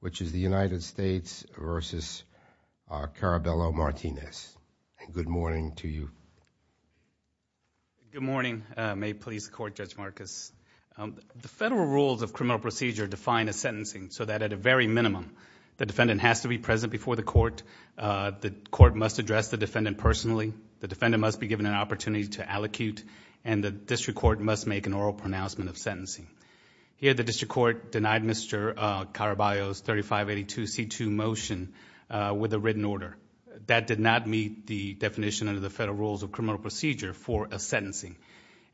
which is the United States versus Caraballo-Martinez. Good morning to you. Good morning, May Police Court Judge Marcus. The federal rules of criminal procedure define a sentencing so that at a very minimum the defendant has to be present before the court. The court must address the defendant personally, the defendant must be given an opportunity to allocute, and the district court must make an oral pronouncement of sentencing. Here the district court denied Mr. Caraballo's 3582 C2 motion with a written order. That did not meet the definition under the federal rules of criminal procedure for a sentencing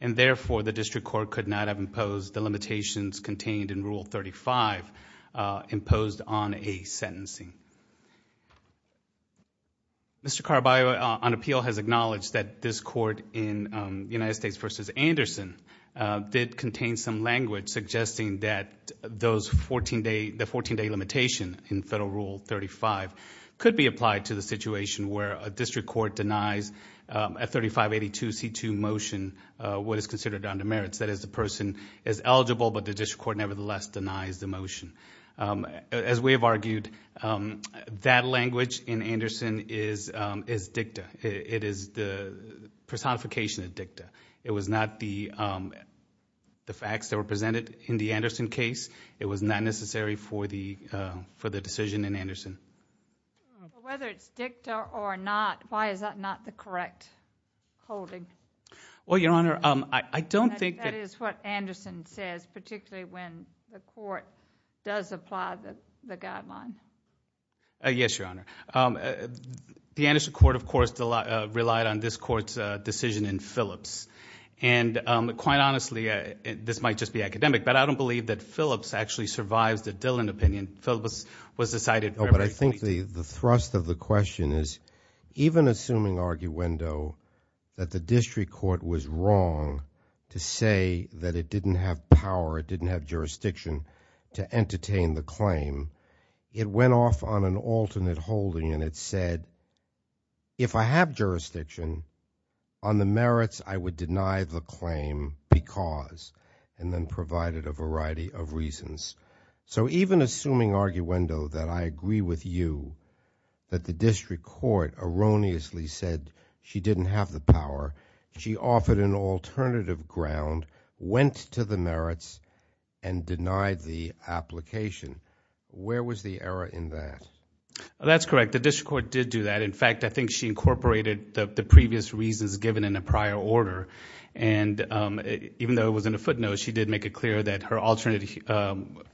and therefore the district court could not have imposed the limitations contained in Rule 35 imposed on a sentencing. Mr. Caraballo on appeal has acknowledged that this court in United States versus Anderson did contain some language suggesting that the 14-day limitation in Federal Rule 35 could be applied to the situation where a district court denies a 3582 C2 motion what is considered under merits. That is, the person is eligible but the district court nevertheless denies the motion. As we have argued, that language in Anderson is dicta. It is the personification of dicta. It was not the facts that were presented in the Anderson case. It was not necessary for the for the decision in Anderson. Whether it's dicta or not, why is that not the correct holding? Well, Your Honor, I don't think that is what Anderson says particularly when the court does apply the guideline. Yes, Your Honor. The Anderson court, of course, relied on this court's decision in Phillips and quite honestly this might just be academic but I don't believe that Phillips actually survives the Dillon opinion. Phillips was decided. I think the the thrust of the question is even assuming arguendo that the district court was wrong to say that it didn't have power, it didn't have jurisdiction to entertain the claim, it went off on an alternate holding and it said if I have jurisdiction on the merits I would deny the claim because and then provided a variety of reasons. So even assuming arguendo that I agree with you that the district court erroneously said she didn't have the power, she offered an alternative ground, went to the merits and denied the application. Where was the error in that? That's correct. The district court did do that. In fact, I think she incorporated the previous reasons given in a prior order and even though it was in a footnote she did make it clear that her alternate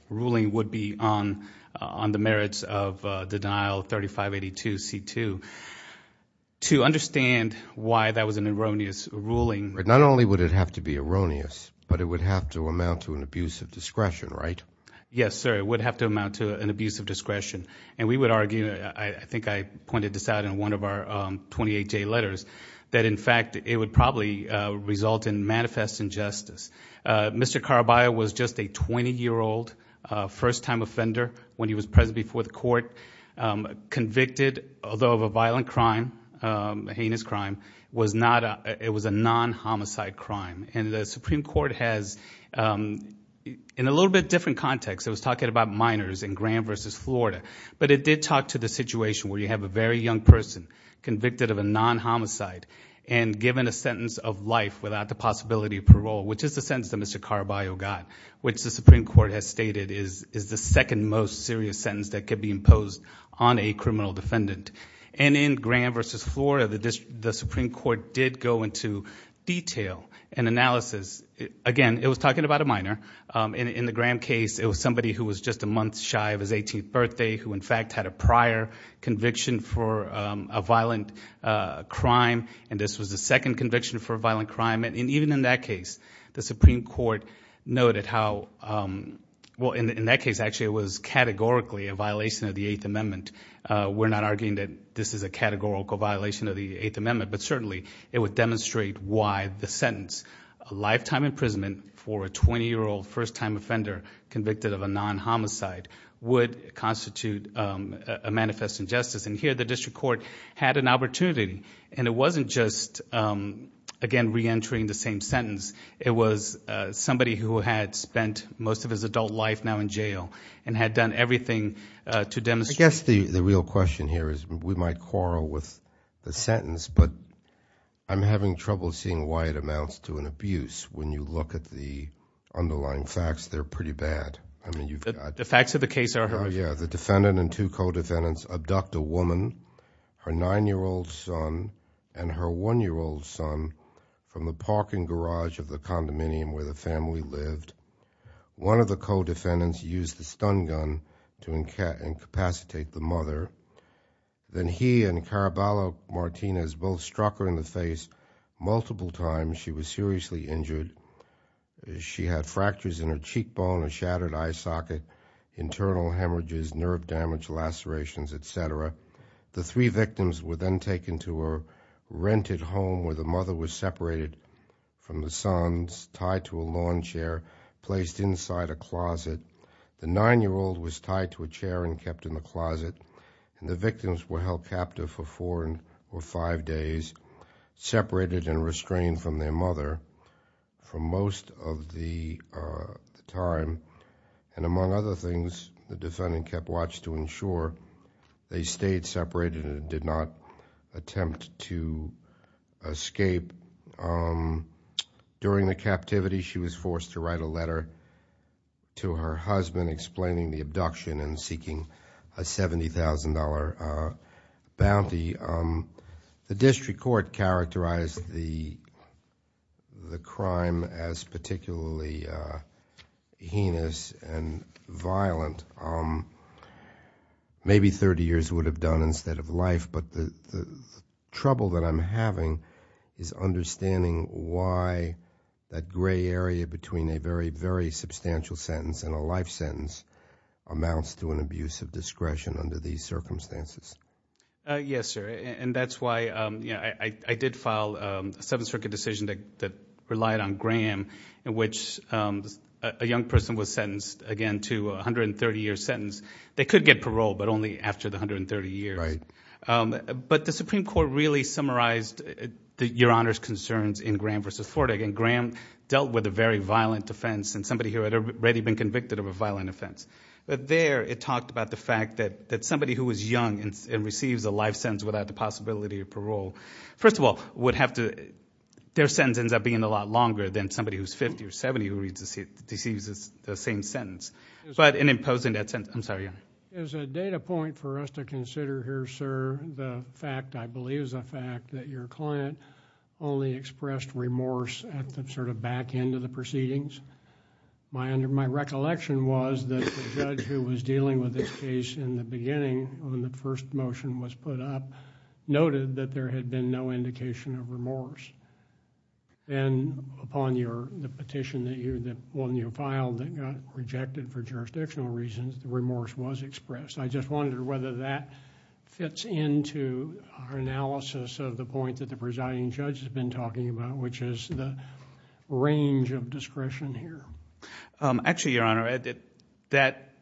ruling would be on the merits of the denial 3582 C2. To understand why that was an erroneous ruling... Not only would it have to be erroneous but it would have to amount to an abuse of discretion, right? Yes, sir. It would have to amount to an abuse of discretion and we would argue, I think I pointed this out in one of our 28 letters, that in fact it would probably result in manifest injustice. Mr. Caraballo was just a 20-year-old first-time offender when he was present before the court. Convicted, although of a violent crime, a heinous crime, it was a non-homicide crime and the Supreme Court has, in a little bit different context, it was talking about minors in Graham versus Florida, but it did talk to the situation where you have a very young person convicted of a non-homicide and given a sentence of life without the possibility of parole, which is the sentence that Mr. Caraballo got, which the Supreme Court has stated is the second most serious sentence that could be imposed on a criminal defendant. And in Graham versus Florida, the Supreme Court did go into detail and analysis. Again, it was talking about a minor. In the Graham case, it was somebody who was just a month shy of his 18th birthday, who in fact had a prior conviction for a violent crime. And this was the second conviction for a violent crime. And even in that case, the Supreme Court noted how... Well, in that case, actually it was categorically a violation of the Eighth Amendment. We're not arguing that this is a categorical violation of the Eighth Amendment, but certainly it would demonstrate why the sentence, a lifetime imprisonment for a 20-year-old first-time offender convicted of a non-homicide, would constitute a manifest injustice. And here, the district court had an opportunity. And it wasn't just, again, re-entering the same sentence. It was somebody who had spent most of his adult life now in jail and had done everything to demonstrate... I guess the real question here is, we might quarrel with the sentence, but I'm having trouble seeing why it amounts to an abuse when you look at the underlying facts. They're pretty bad. I mean, you've got... The facts of the case are horrific. Oh, yeah. The defendant and two co-defendants abduct a woman, her nine-year-old son, and her one-year-old son, from the parking garage of the condominium where the family lived. One of the co-defendants used a stun gun to incapacitate the mother. Then he and Caraballo Martinez both struck her in the face multiple times. She was seriously injured. She had fractures in her cheekbone, a shattered eye socket, internal hemorrhages, nerve damage, lacerations, et cetera. The three victims were then taken to a rented home where the mother was separated from the sons, tied to a lawn chair, placed inside a closet. The nine-year-old was tied to a chair and kept in the closet. And the victims were held captive for four or five days, separated and restrained from their mother for most of the time. And among other things, the defendant kept watch to ensure they stayed separated and did not attempt to escape. During the captivity, she was forced to write a letter to her husband explaining the abduction and seeking a $70,000 bounty. The district court characterized the crime as particularly heinous and violent. Maybe thirty years would have done instead of life, but the trouble that I'm having is understanding why that gray area between a very, very young person's hands amounts to an abuse of discretion under these circumstances. Yes, sir. And that's why I did file a Seventh Circuit decision that relied on Graham in which a young person was sentenced, again, to a hundred and thirty year sentence. They could get parole, but only after the hundred and thirty years. But the Supreme Court really summarized Your Honor's concerns in Graham v. Ford. Again, Graham dealt with a very violent offense and somebody here had already been convicted of a violent offense. But there, it talked about the fact that somebody who was young and receives a life sentence without the possibility of parole, first of all, would have to... their sentence ends up being a lot longer than somebody who's fifty or seventy who receives the same sentence. In imposing that sentence... I'm sorry, Your Honor. As a data point for us to consider here, sir, the fact, I believe, is a fact that your client only expressed remorse at the sort of back end of the proceedings. My recollection was that the judge who was dealing with this case in the beginning, when the first motion was put up, noted that there had been no indication of remorse. Then, upon the petition that you filed that got rejected for jurisdictional reasons, remorse was expressed. I just wonder whether that fits into our analysis of the point that the plaintiff made in terms of discretion here. Actually, Your Honor,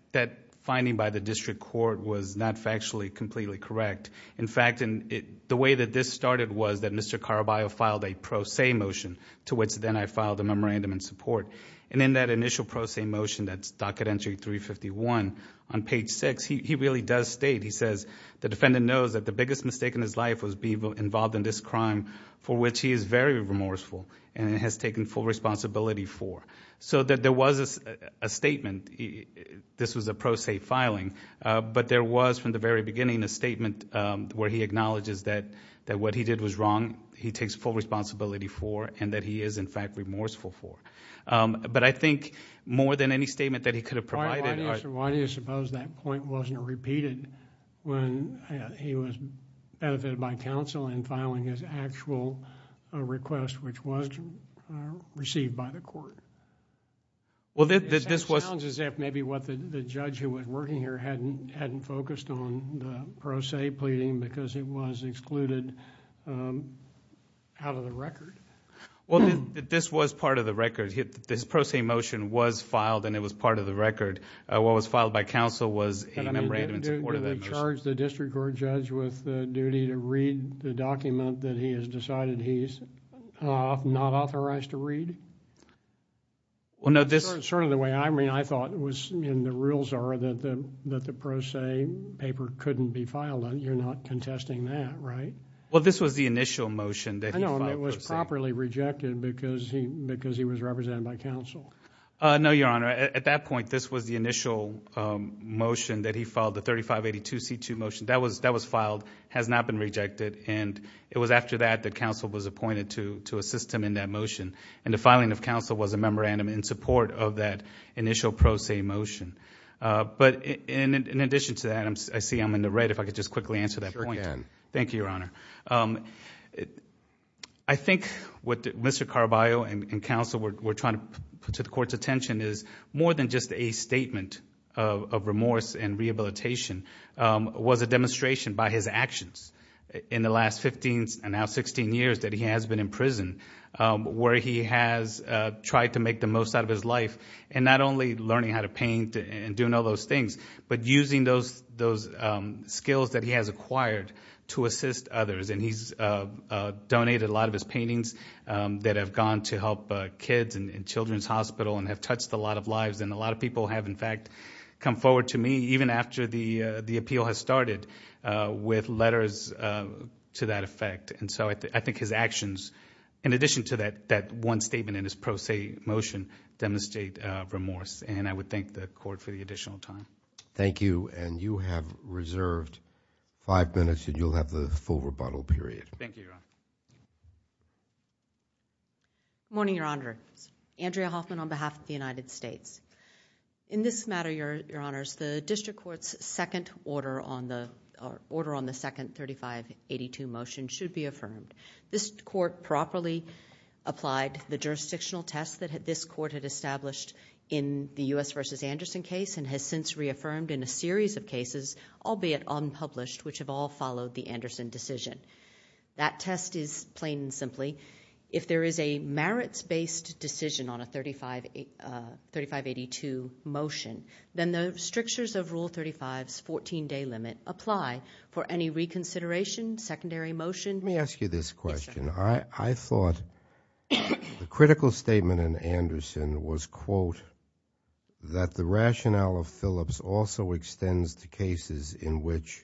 that finding by the district court was not factually completely correct. In fact, the way that this started was that Mr. Caraballo filed a pro se motion, to which then I filed a memorandum in support. In that initial pro se motion, that's docket entry 351, on page six, he really does state, he says, the defendant knows that the biggest mistake in his life was being involved in this crime for which he is very remorseful and has taken full responsibility for. There was a statement, this was a pro se filing, but there was, from the very beginning, a statement where he acknowledges that what he did was wrong, he takes full responsibility for, and that he is, in fact, remorseful for. I think, more than any statement that he could have provided... Why do you suppose that point wasn't repeated when he was benefited by counsel in filing his actual request, which was received by the court? It sounds as if maybe what the judge who was working here hadn't focused on the pro se pleading because it was excluded out of the record. This was part of the record. This pro se motion was filed and it was part of the record. What was filed by counsel was a memorandum in support of that motion. Did he charge the district court judge with the duty to read the document that he has decided he's not authorized to read? No, this... Sort of the way I mean, I thought it was in the rules are that the pro se paper couldn't be filed. You're not contesting that, right? Well, this was the initial motion that he filed. I know, and it was properly rejected because he was represented by counsel. No, Your Honor. At that point, this was the initial motion that he filed, the 3582C2 motion. That was filed, has not been rejected. It was after that that counsel was appointed to assist him in that motion. The filing of counsel was a memorandum in support of that initial pro se motion. In addition to that, I see I'm in the red. If I could just quickly answer that point. Sure can. Thank you, Your Honor. I think what Mr. Carballo and counsel were trying to put to the court's attention is more than just a statement of rehabilitation. It was a demonstration by his actions in the last 15, and now 16, years that he has been in prison where he has tried to make the most out of his life. Not only learning how to paint and doing all those things, but using those skills that he has acquired to assist others. He's donated a lot of his paintings that have gone to help kids in children's hospital and have touched a lot of lives. A lot of people have, in fact, come forward to me, even after the appeal has started, with letters to that effect. I think his actions, in addition to that one statement in his pro se motion, demonstrate remorse. I would thank the court for the additional time. Thank you. You have reserved five minutes and you'll have the full rebuttal period. Thank you, Your Honor. Good morning, Your Honor. Andrea Hoffman on behalf of the United States. In this matter, Your Honors, the district court's second order on the second 3582 motion should be affirmed. This court properly applied the jurisdictional test that this court had established in the U.S. v. Anderson case and has since reaffirmed in a series of cases, albeit unpublished, which have all followed the Anderson decision. That test is plain and simply, if there is a merits-based decision on a 3582 motion, then the strictures of Rule 35's fourteen-day limit apply for any reconsideration, secondary motion... Let me ask you this question. Yes, Your Honor. I thought the critical statement in Anderson was, quote, that the rationale of Phillips also extends to cases in which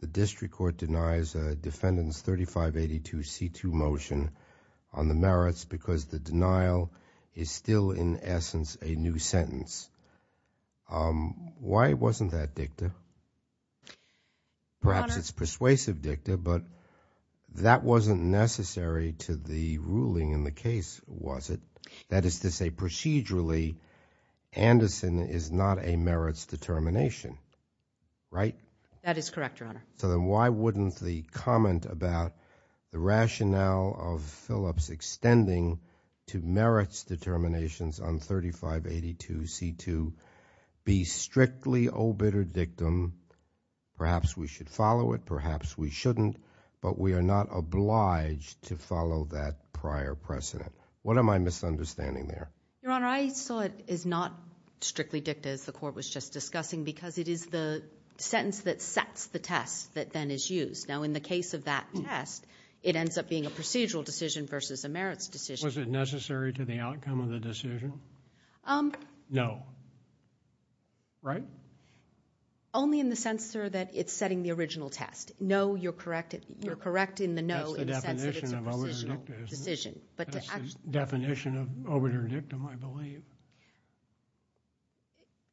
the district court denies a defendant's 3582C2 motion on the merits because the denial is still, in essence, a new sentence. Why wasn't that dicta? Your Honor... Perhaps it's persuasive dicta, but that wasn't necessary to the ruling in the case, was it? That is to say, procedurally, Anderson is not a merits determination, right? That is correct, Your Honor. So then why wouldn't the comment about the rationale of Phillips extending to merits determinations on 3582C2 be strictly, oh, bitter dictum? Perhaps we should follow it, perhaps we shouldn't, but we are not obliged to follow that prior precedent. What am I misunderstanding there? Your Honor, I saw it as not strictly dicta, as the Court was just Now, in the case of that test, it ends up being a procedural decision versus a merits decision. Was it necessary to the outcome of the decision? No. Right? Only in the sense, sir, that it's setting the original test. No, you're correct. You're correct in the no in the sense that it's a procedural decision. That's the definition of over-dictum, isn't it? That's the definition of over-dictum, I believe.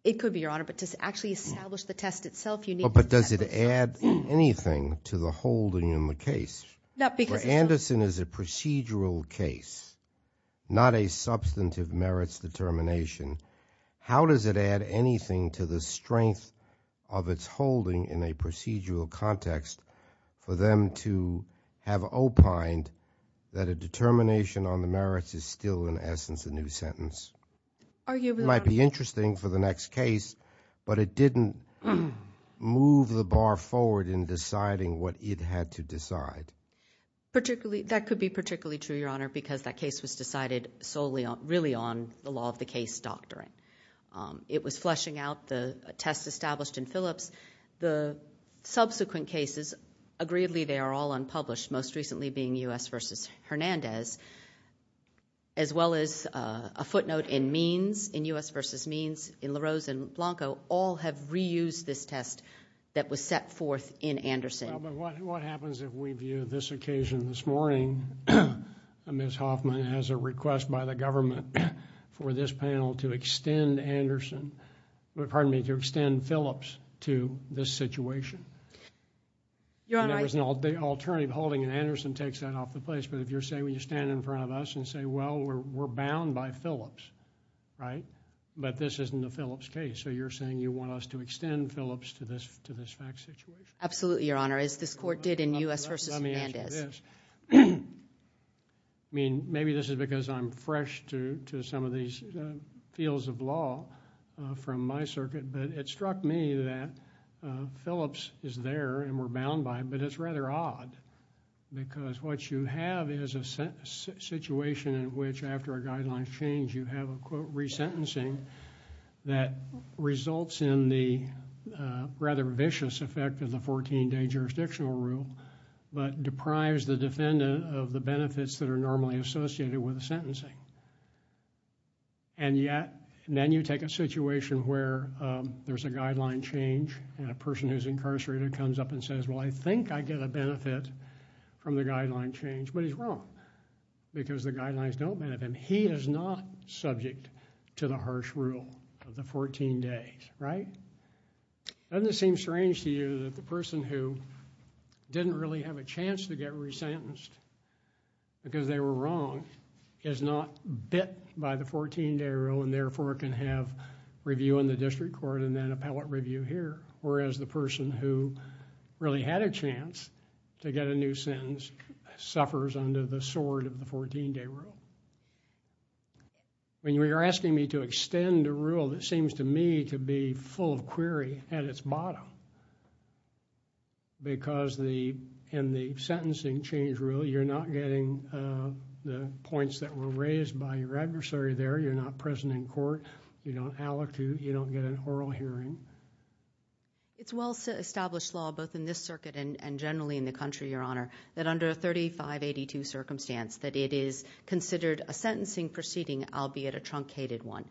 It could be, Your Honor, but to actually establish the test itself, you need... But does it add anything to the holding in the case? No, because it's... For Anderson, it's a procedural case, not a substantive merits determination. How does it add anything to the strength of its holding in a procedural context for them to have opined that a determination on the merits is still, in essence, a new sentence? Arguably, Your Honor. That might be interesting for the next case, but it didn't move the bar forward in deciding what it had to decide. That could be particularly true, Your Honor, because that case was decided solely on... really on the law of the case doctrine. It was fleshing out the test established in Phillips. The subsequent cases, agreedly, they are all unpublished, most recently being U.S. v. Hernandez, as well as a footnote in Means, in U.S. v. Means, in LaRose and Blanco, all have reused this test that was set forth in Anderson. What happens if we view this occasion this morning, Ms. Hoffman, as a request by the government for this panel to extend Anderson... pardon me, to extend Phillips to this situation? Your Honor... I mean, there was an alternative holding, and Anderson takes that off the place. But if you're saying, when you stand in front of us and say, well, we're bound by Phillips, right? But this isn't a Phillips case, so you're saying you want us to extend Phillips to this fact situation? Absolutely, Your Honor. As this Court did in U.S. v. Hernandez. Let me answer this. Maybe this is because I'm fresh to some of these fields of law from my circuit, but it is rather odd, because what you have is a situation in which, after a guideline change, you have a, quote, resentencing that results in the rather vicious effect of the fourteen-day jurisdictional rule, but deprives the defendant of the benefits that are normally associated with a sentencing. And yet, then you take a situation where there's a guideline change, and a person who's incarcerated comes up and says, well, I think I get a benefit from the guideline change, but he's wrong, because the guidelines don't benefit him. He is not subject to the harsh rule of the fourteen days, right? Doesn't it seem strange to you that the person who didn't really have a chance to get resentenced because they were wrong, is not bit by the fourteen-day rule, and therefore can have a review in the district court and then appellate review here, whereas the person who really had a chance to get a new sentence suffers under the sword of the fourteen-day rule? When you're asking me to extend a rule that seems to me to be full of query at its bottom, because in the sentencing change rule, you're not getting the points that were raised by your adversary there, you're not present in court, you don't get an oral hearing. It's well-established law, both in this circuit and generally in the country, Your Honor, that under a 3582 circumstance, that it is considered a sentencing proceeding, albeit a truncated one.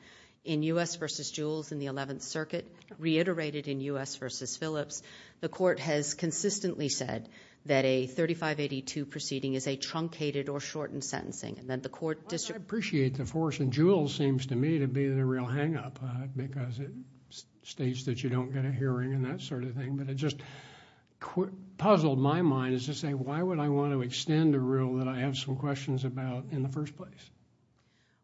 In U.S. v. Jules in the Eleventh Circuit, reiterated in U.S. v. Phillips, the court has consistently said that a 3582 proceeding is a truncated or shortened sentencing, and the court... I appreciate the force, and Jules seems to me to be the real hang-up, because it states that you don't get a hearing and that sort of thing, but it just puzzled my mind as to say, why would I want to extend a rule that I have some questions about in the first place?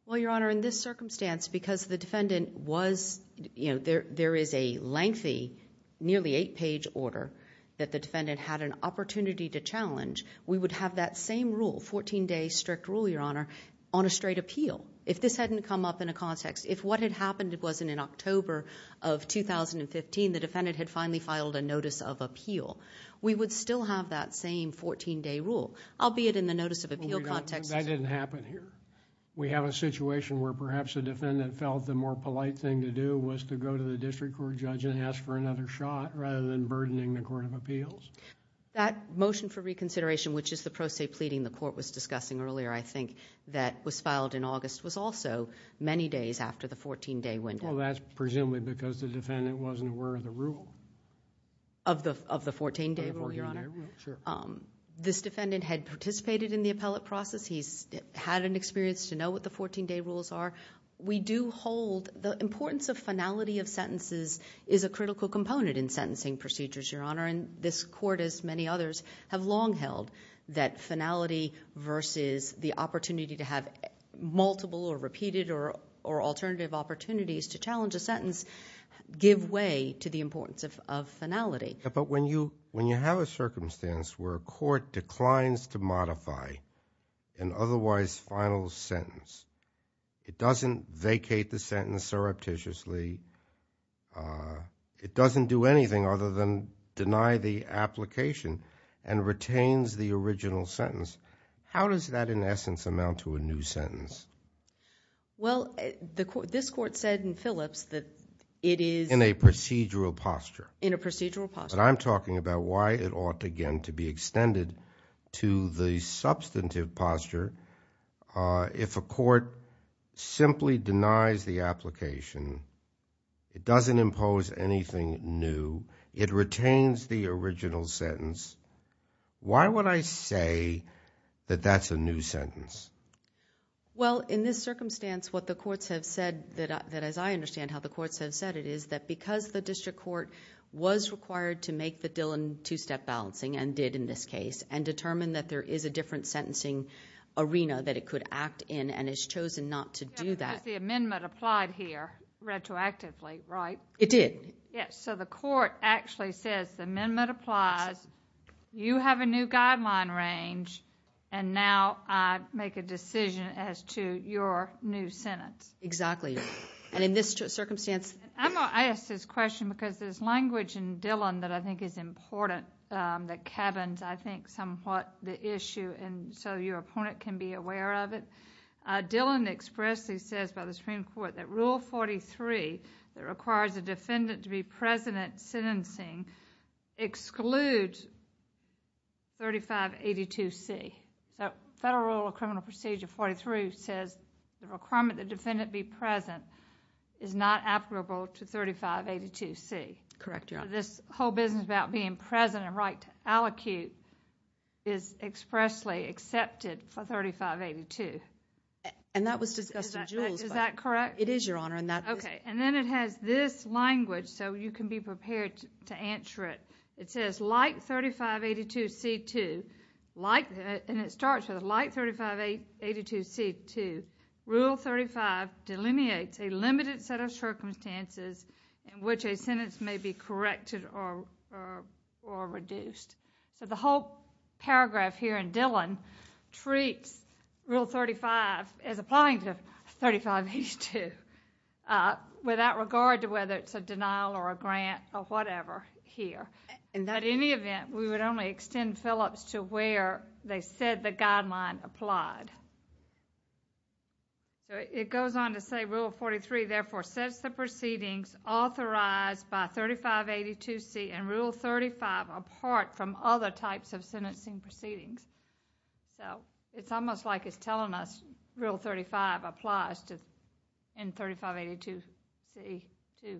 Well, Your Honor, in this circumstance, because the defendant was... there is a lengthy, nearly eight-page order that the defendant had an opportunity to challenge. We would have that same rule, 14-day strict rule, Your Honor, on a straight appeal. If this hadn't come up in a context... if what had happened wasn't in October of 2015, the defendant had finally filed a notice of appeal, we would still have that same 14-day rule, albeit in the notice of appeal context... That didn't happen here. We have a situation where perhaps the defendant felt the more polite thing to do was to go to the district court judge and ask for another shot, rather than burdening the court of appeals? That motion for reconsideration, which is the pro se pleading the court was discussing earlier, I think, that was filed in August, was also many days after the 14-day window. Well, that's presumably because the defendant wasn't aware of the rule. Of the 14-day rule, Your Honor? Of the 14-day rule, sure. This defendant had participated in the appellate process. He's had an experience to know what the 14-day rules are. We do hold... the importance of finality of sentences is a critical component in sentencing procedures, Your Honor, and this court, as many others, have long held that finality versus the opportunity to have multiple or repeated or alternative opportunities to challenge a sentence give way to the importance of finality. But when you have a circumstance where a court declines to modify an otherwise final sentence, it doesn't vacate the sentence surreptitiously, it doesn't do anything other than deny the application and retains the original sentence, how does that, in essence, amount to a new sentence? Well, this court said in Phillips that it is... In a procedural posture. In a procedural posture. But I'm talking about why it ought, again, to be extended to the substantive posture. If a court simply denies the application, it doesn't impose anything new, it retains the original sentence, why would I say that that's a new sentence? Well, in this circumstance, what the courts have said, that as I understand how the courts have said it, is that because the district court was required to make the Dillon two-step balancing, and did in this case, and determined that there is a different sentencing arena that it could act in, and has chosen not to do that... Yeah, because the amendment applied here, retroactively, right? It did. Yes, so the court actually says, the amendment applies, you have a new guideline range, and now I make a decision as to your new sentence. Exactly. And in this circumstance... I'm going to ask this question, because there's language in Dillon that I think is important, that cabins, I think, somewhat the issue, and so your opponent can be aware of it. Dillon expressly says, by the Supreme Court, that Rule 43, that requires the defendant to be present at sentencing, excludes 3582C. The Federal Rule of Criminal Procedure 43 says, the requirement that the defendant be present is not applicable to 3582C. Correct, Your Honor. This whole business about being present and right to allocute is expressly accepted for 3582. And that was discussed in Jules, but... Is that correct? It is, Your Honor, and that... Okay, and then it has this language, so you can be prepared to answer it. It says, like 3582C2, like... and it starts with, like 3582C2, Rule 35 delineates a limited set of circumstances in which a sentence may be corrected or reduced. So, the whole paragraph here in Dillon treats Rule 35 as applying to 3582, without regard to whether it's a denial or a grant or whatever here. In any event, we would only extend Phillips to where they said the guideline applied. It goes on to say, Rule 43, therefore, sets the proceedings authorized by 3582C and Rule 35 apart from other types of sentencing proceedings. So, it's almost like it's telling us Rule 35 applies in 3582C2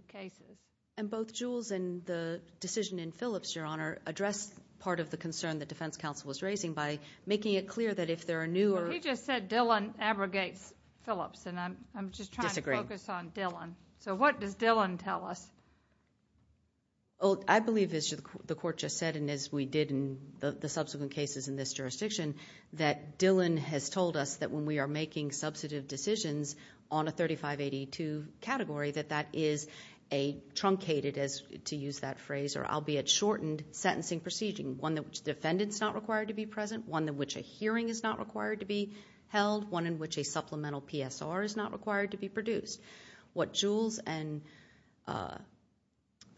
cases. And both Jules and the decision in Phillips, Your Honor, address part of the concern the defense counsel was raising by making it clear that if there are new... But he just said Dillon abrogates Phillips and I'm just trying to focus on Dillon. So what does Dillon tell us? I believe, as the Court just said and as we did in the subsequent cases in this jurisdiction, that Dillon has told us that when we are making substantive decisions on a 3582 category, that that is a truncated, to use that phrase, albeit shortened, sentencing proceeding. One in which the defendant is not required to be present, one in which a hearing is not required to be held, one in which a supplemental PSR is not required to be produced. What Jules and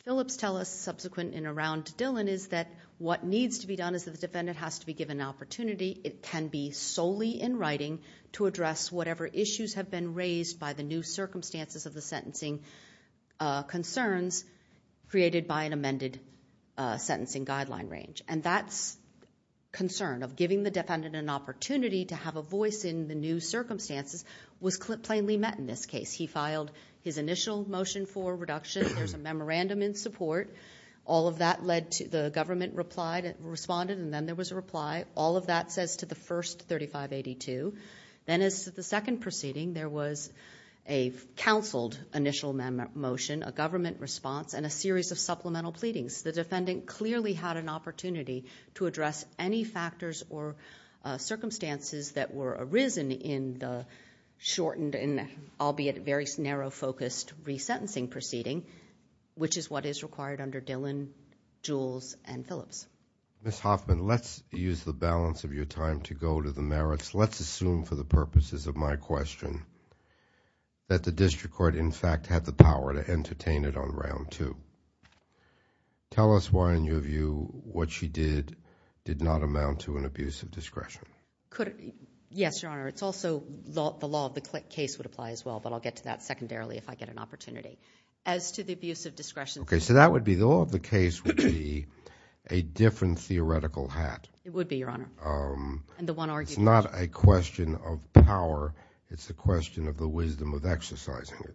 Phillips tell us subsequent and around Dillon is that what needs to be done is that the defendant has to be given an opportunity. It can be solely in writing to address whatever issues have been raised by the new circumstances of the sentencing concerns created by an amended sentencing guideline range. And that concern of giving the defendant an opportunity to have a voice in the new circumstances was plainly met in this case. He filed his initial motion for reduction, there's a memorandum in support. All of that led to the government responded and then there was a reply. All of that says to the first 3582. Then as to the second proceeding, there was a counseled initial motion, a government response and a series of supplemental pleadings. The defendant clearly had an opportunity to address any factors or circumstances that were arisen in the shortened and albeit very narrow focused resentencing proceeding, which is what is required under Dillon, Jules and Phillips. Ms. Hoffman, let's use the balance of your time to go to the merits. Let's assume for the purposes of my question that the district court in fact had the power to entertain it on round two. Tell us why in your view what she did did not amount to an abuse of discretion. Yes, Your Honor. It's also the law of the case would apply as well, but I'll get to that secondarily if I get an opportunity. As to the abuse of discretion. Okay, so that would be the law of the case would be a different theoretical hat. It would be, Your Honor. And the one argued. It's not a question of power, it's a question of the wisdom of exercising it.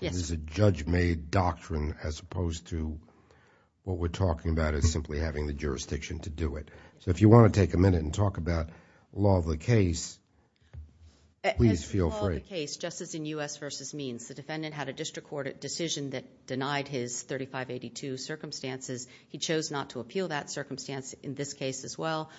Yes. It's a judge made doctrine as opposed to what we're talking about is simply having the jurisdiction to do it. If you want to take a minute and talk about law of the case, please feel free. As to the law of the case, just as in U.S. v. Means, the defendant had a district court decision that denied his 3582 circumstances. He chose not to appeal that circumstance in this case as well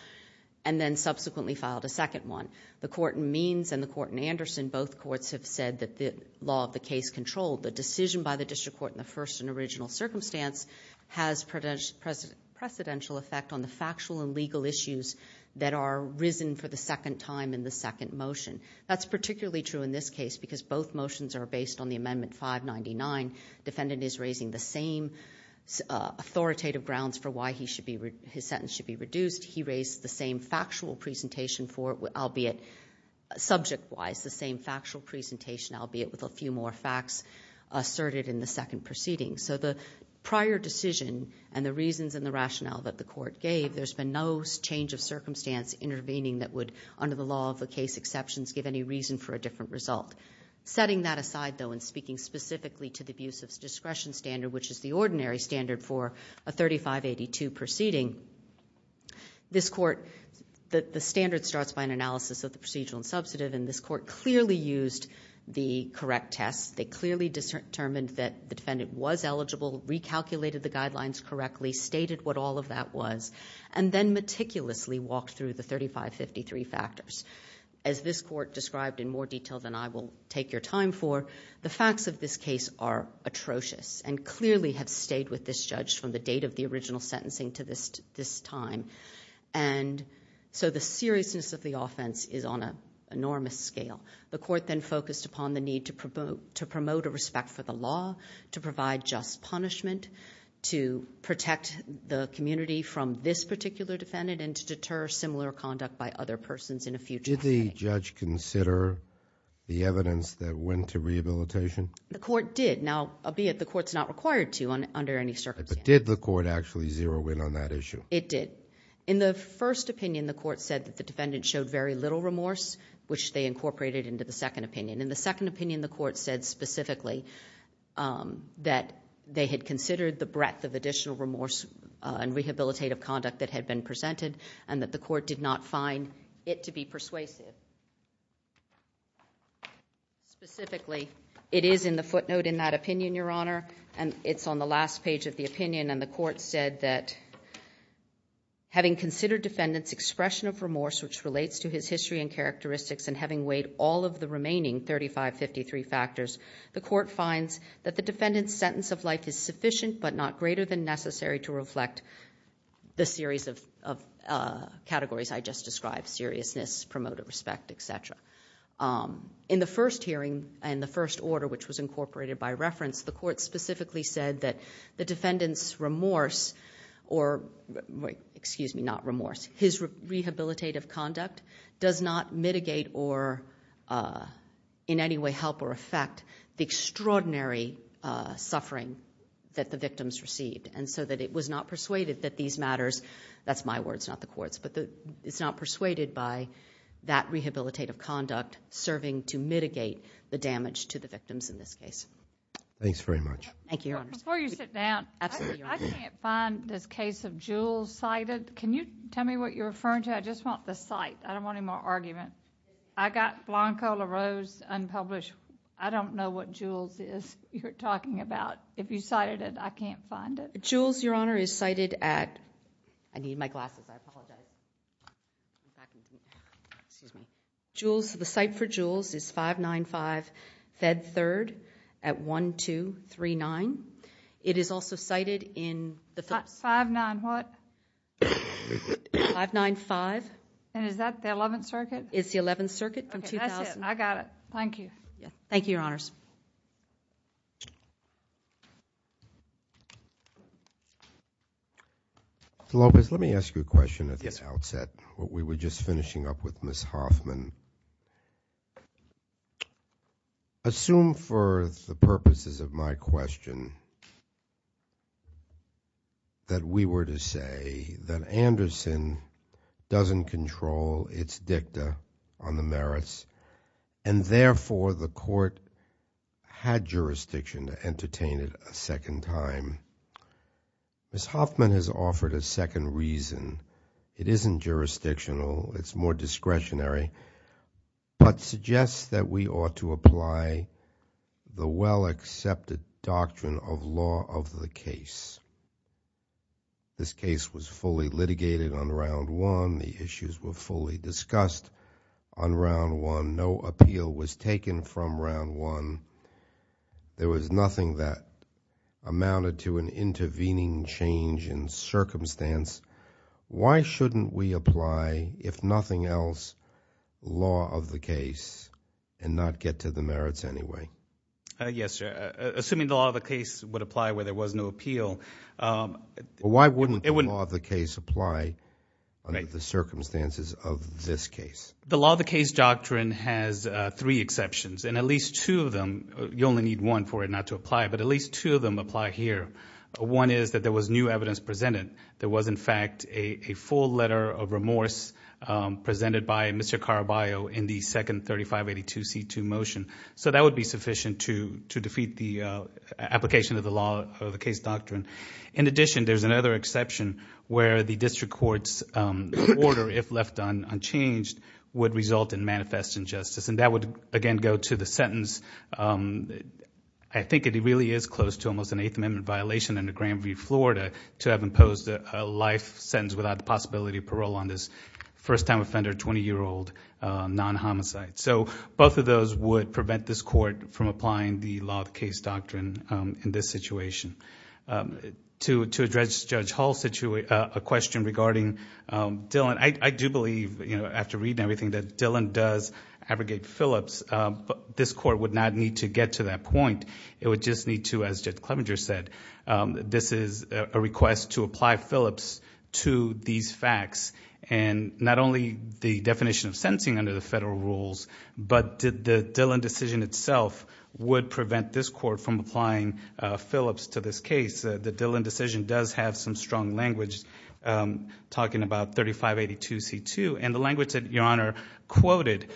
and then subsequently filed a second one. The court in Means and the court in Anderson, both courts have said that the law of the case controlled the decision by the district court in the first and original circumstance has precedential effect on the factual and legal issues that are risen for the second time in the second motion. That's particularly true in this case because both motions are based on the Amendment 599. Defendant is raising the same authoritative grounds for why his sentence should be reduced. He raised the same factual presentation for it, albeit subject-wise, the same factual presentation, albeit with a few more facts asserted in the second proceeding. So the prior decision and the reasons and the rationale that the court gave, there's been no change of circumstance intervening that would, under the law of the case, exceptions give any reason for a different result. Setting that aside, though, and speaking specifically to the abuse of discretion standard, which is the ordinary standard for a 3582 proceeding, this court, the standard starts by an analysis of the procedural and substantive and this court clearly used the correct test. They clearly determined that the defendant was eligible, recalculated the guidelines correctly, stated what all of that was, and then meticulously walked through the 3553 factors. As this court described in more detail than I will take your time for, the facts of this case are atrocious and clearly have stayed with this judge from the date of the original sentencing to this time. And so the seriousness of the offense is on an enormous scale. The court then focused upon the need to promote a respect for the law, to provide just punishment, to protect the community from this particular defendant, and to deter similar conduct by other persons in a future setting. Did the judge consider the evidence that went to rehabilitation? The court did, albeit the court's not required to under any circumstances. Did the court actually zero in on that issue? It did. In the first opinion, the court said that the defendant showed very little remorse, which they incorporated into the second opinion. In the second opinion, the court said specifically that they had considered the breadth of additional remorse and rehabilitative conduct that had been presented, and that the court did not find it to be persuasive. Specifically, it is in the footnote in that opinion, Your Honor, and it's on the last page of the opinion, and the court said that having considered defendant's expression of characteristics, and having weighed all of the remaining 3553 factors, the court finds that the defendant's sentence of life is sufficient, but not greater than necessary to reflect the series of categories I just described, seriousness, promoted respect, et cetera. In the first hearing, and the first order, which was incorporated by reference, the court specifically said that the defendant's remorse, or excuse me, not remorse, his rehabilitative conduct does not mitigate or in any way help or affect the extraordinary suffering that the victims received, and so that it was not persuaded that these matters... that's my words, not the court's, but it's not persuaded by that rehabilitative conduct serving to mitigate the damage to the victims in this case. Thanks very much. Thank you, Your Honor. Before you sit down, I can't find this case of Jules cited. Can you tell me what you're referring to? No, I just want the cite. I don't want any more argument. I got Blanco LaRose unpublished. I don't know what Jules is you're talking about. If you cited it, I can't find it. Jules, Your Honor, is cited at... I need my glasses, I apologize... Jules, the cite for Jules is 595 Fed 3rd at 1239. It is also cited in the... 5-9-what? 595. And is that the Eleventh Circuit? It's the Eleventh Circuit from... Okay, that's it. I got it. Thank you. Thank you, Your Honors. Ms. Lopez, let me ask you a question at the outset. We were just finishing up with Ms. Hoffman. Assume for the purposes of my question that we were to say that Anderson doesn't control its dicta on the merits, and therefore the court had jurisdiction to entertain it a second time. Ms. Hoffman has offered a second reason. It isn't jurisdictional. It's more discretionary, but suggests that we ought to apply the well-accepted doctrine of law of the case. This case was fully litigated on Round 1. The issues were fully discussed on Round 1. No appeal was taken from Round 1. There was nothing that amounted to an intervening change in circumstance. Why shouldn't we apply, if nothing else, law of the case and not get to the merits anyway? Yes, Your Honor. Assuming the law of the case would apply where there was no appeal... Well, why wouldn't the law of the case apply under the circumstances of this case? The law of the case doctrine has three exceptions, and at least two of them... you only need one for it not to apply, but at least two of them apply here. One is that there was new evidence presented. There was, in fact, a full letter of remorse presented by Mr. Caraballo in the second 3582 C2 motion. That would be sufficient to defeat the application of the law of the case doctrine. In addition, there's another exception where the district court's order, if left unchanged, would result in manifest injustice. That would, again, go to the sentence... I think it really is close to almost an Eighth Amendment violation under Granby, Florida, to have imposed a life sentence without the possibility of parole on this first-time offender, 20-year-old, non-homicide. Both of those would prevent this court from applying the law of the case doctrine in this situation. To address Judge Hall's question regarding Dillon, I do believe, after reading everything that Dillon does abrogate Phillips. This court would not need to get to that point. It would just need to, as Judge Clevenger said, this is a request to apply Phillips to these facts. Not only the definition of sentencing under the federal rules, but the Dillon decision itself would prevent this court from applying Phillips to this case. The Dillon decision does have some strong language talking about 3582 C2. The language that Your Honor quoted,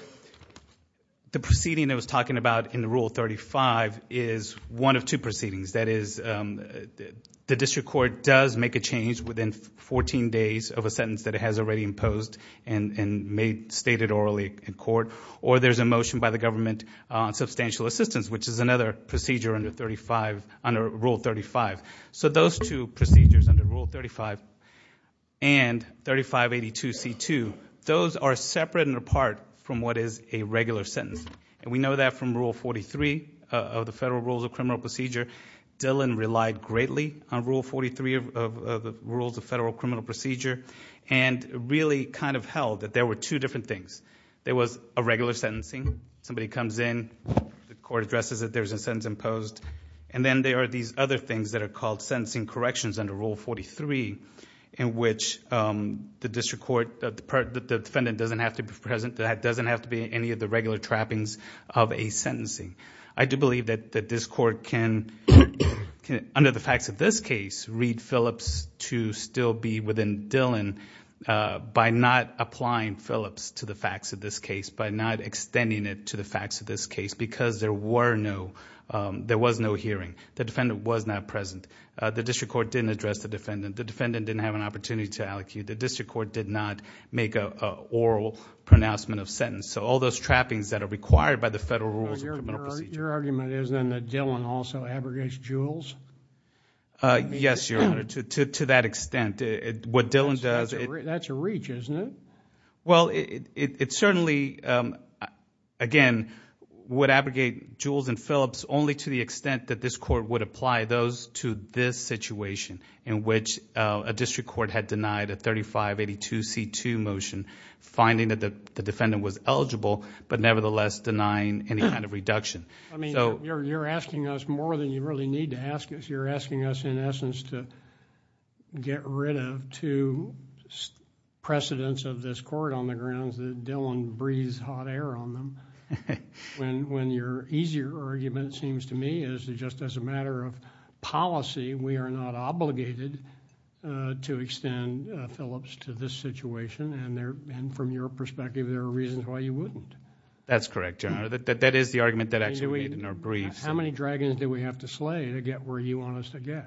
the proceeding that was talking about in Rule 35, is one of two proceedings. That is, the district court does make a change within 14 days of a sentence that it has already imposed and stated orally in court, or there's a motion by the government on substantial assistance, which is another procedure under Rule 35. Those two procedures under Rule 35 and 3582 C2, those are separate and apart from what is a regular sentence. We know that from Rule 43 of the Federal Rules of Criminal Procedure. Dillon relied greatly on Rule 43 of the Rules of Federal Criminal Procedure and really kind of held that there were two different things. There was a regular sentencing. Somebody comes in, the court addresses that there's a sentence imposed, and then there are these other things that are called sentencing corrections under Rule 43, in which the district court, the defendant doesn't have to be present, that doesn't have to be any of the regular trappings of a sentencing. I do believe that this court can, under the facts of this case, read Phillips to still be within Dillon by not applying Phillips to the facts of this case, by not extending it to the facts of this case, because there was no hearing. The defendant was not present. The district court didn't address the defendant. The defendant didn't have an opportunity to allecute. The district court did not make an oral pronouncement of sentence. All those trappings that are required by the Federal Rules of Criminal Procedure... Your argument is then that Dillon also abrogates Jules? Yes, Your Honor, to that extent. What Dillon does... That's a reach, isn't it? Well, it certainly, again, would abrogate Jules and Phillips only to the extent that this court would apply those to this situation, in which a district court had denied a 3582 C2 motion, finding that the defendant was eligible, but nevertheless denying any kind of reduction. I mean, you're asking us more than you really need to ask us. You're asking us, in essence, to get rid of two precedents of this court on the grounds that Dillon breathes hot air on them, when your easier argument, it seems to me, is just as a matter of policy, we are not obligated to extend Phillips to this situation, and from your perspective, there are reasons why you wouldn't. That's correct, Your Honor. That is the argument that actually we made in our briefs. How many dragons do we have to slay to get where you want us to get?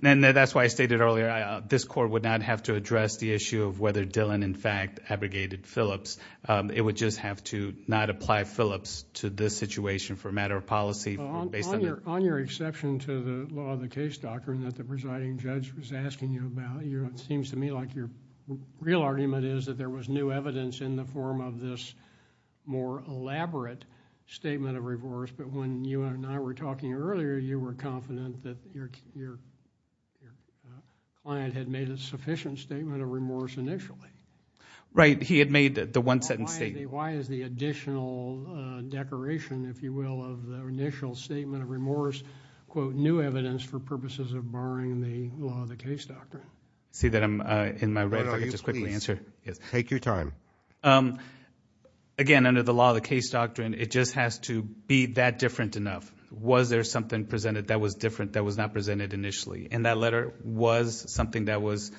That's why I stated earlier, this court would not have to address the issue of whether Dillon, in fact, abrogated Phillips. It would just have to not apply Phillips to this situation for a matter of policy based on... On your exception to the law of the case, doctor, and that the presiding judge was asking you about, it seems to me like your real argument is that there was new evidence in the form of this more elaborate statement of remorse, but when you and I were talking earlier, you were confident that your client had made a sufficient statement of remorse initially. Right. He had made the one sentence statement. Why is the additional decoration, if you will, of the initial statement of remorse, quote, new evidence for purposes of barring the law of the case, doctor? See that I'm in my right, if I could just quickly answer... Again, under the law of the case doctrine, it just has to be that different enough. Was there something presented that was different that was not presented initially? That letter was something that was,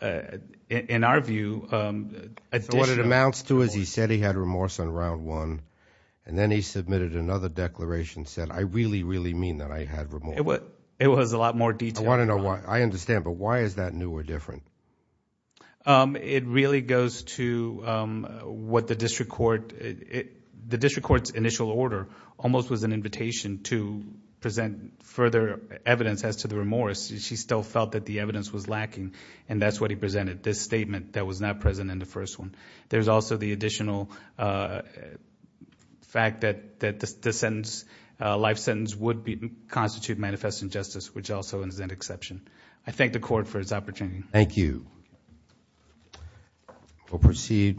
in our view... What it amounts to is he said he had remorse on round one, and then he submitted another declaration that said, I really, really mean that I had remorse. It was a lot more detailed. I want to know why. I understand, but why is that new or different? It really goes to what the district court... the district court's initial order almost was an invitation to present further evidence as to the remorse. She still felt that the evidence was lacking, and that's what he presented, this statement that was not present in the first one. There's also the additional fact that the sentence, life sentence, would constitute manifest injustice, which also is an exception. I thank the court for this opportunity. Thank you. Thank you.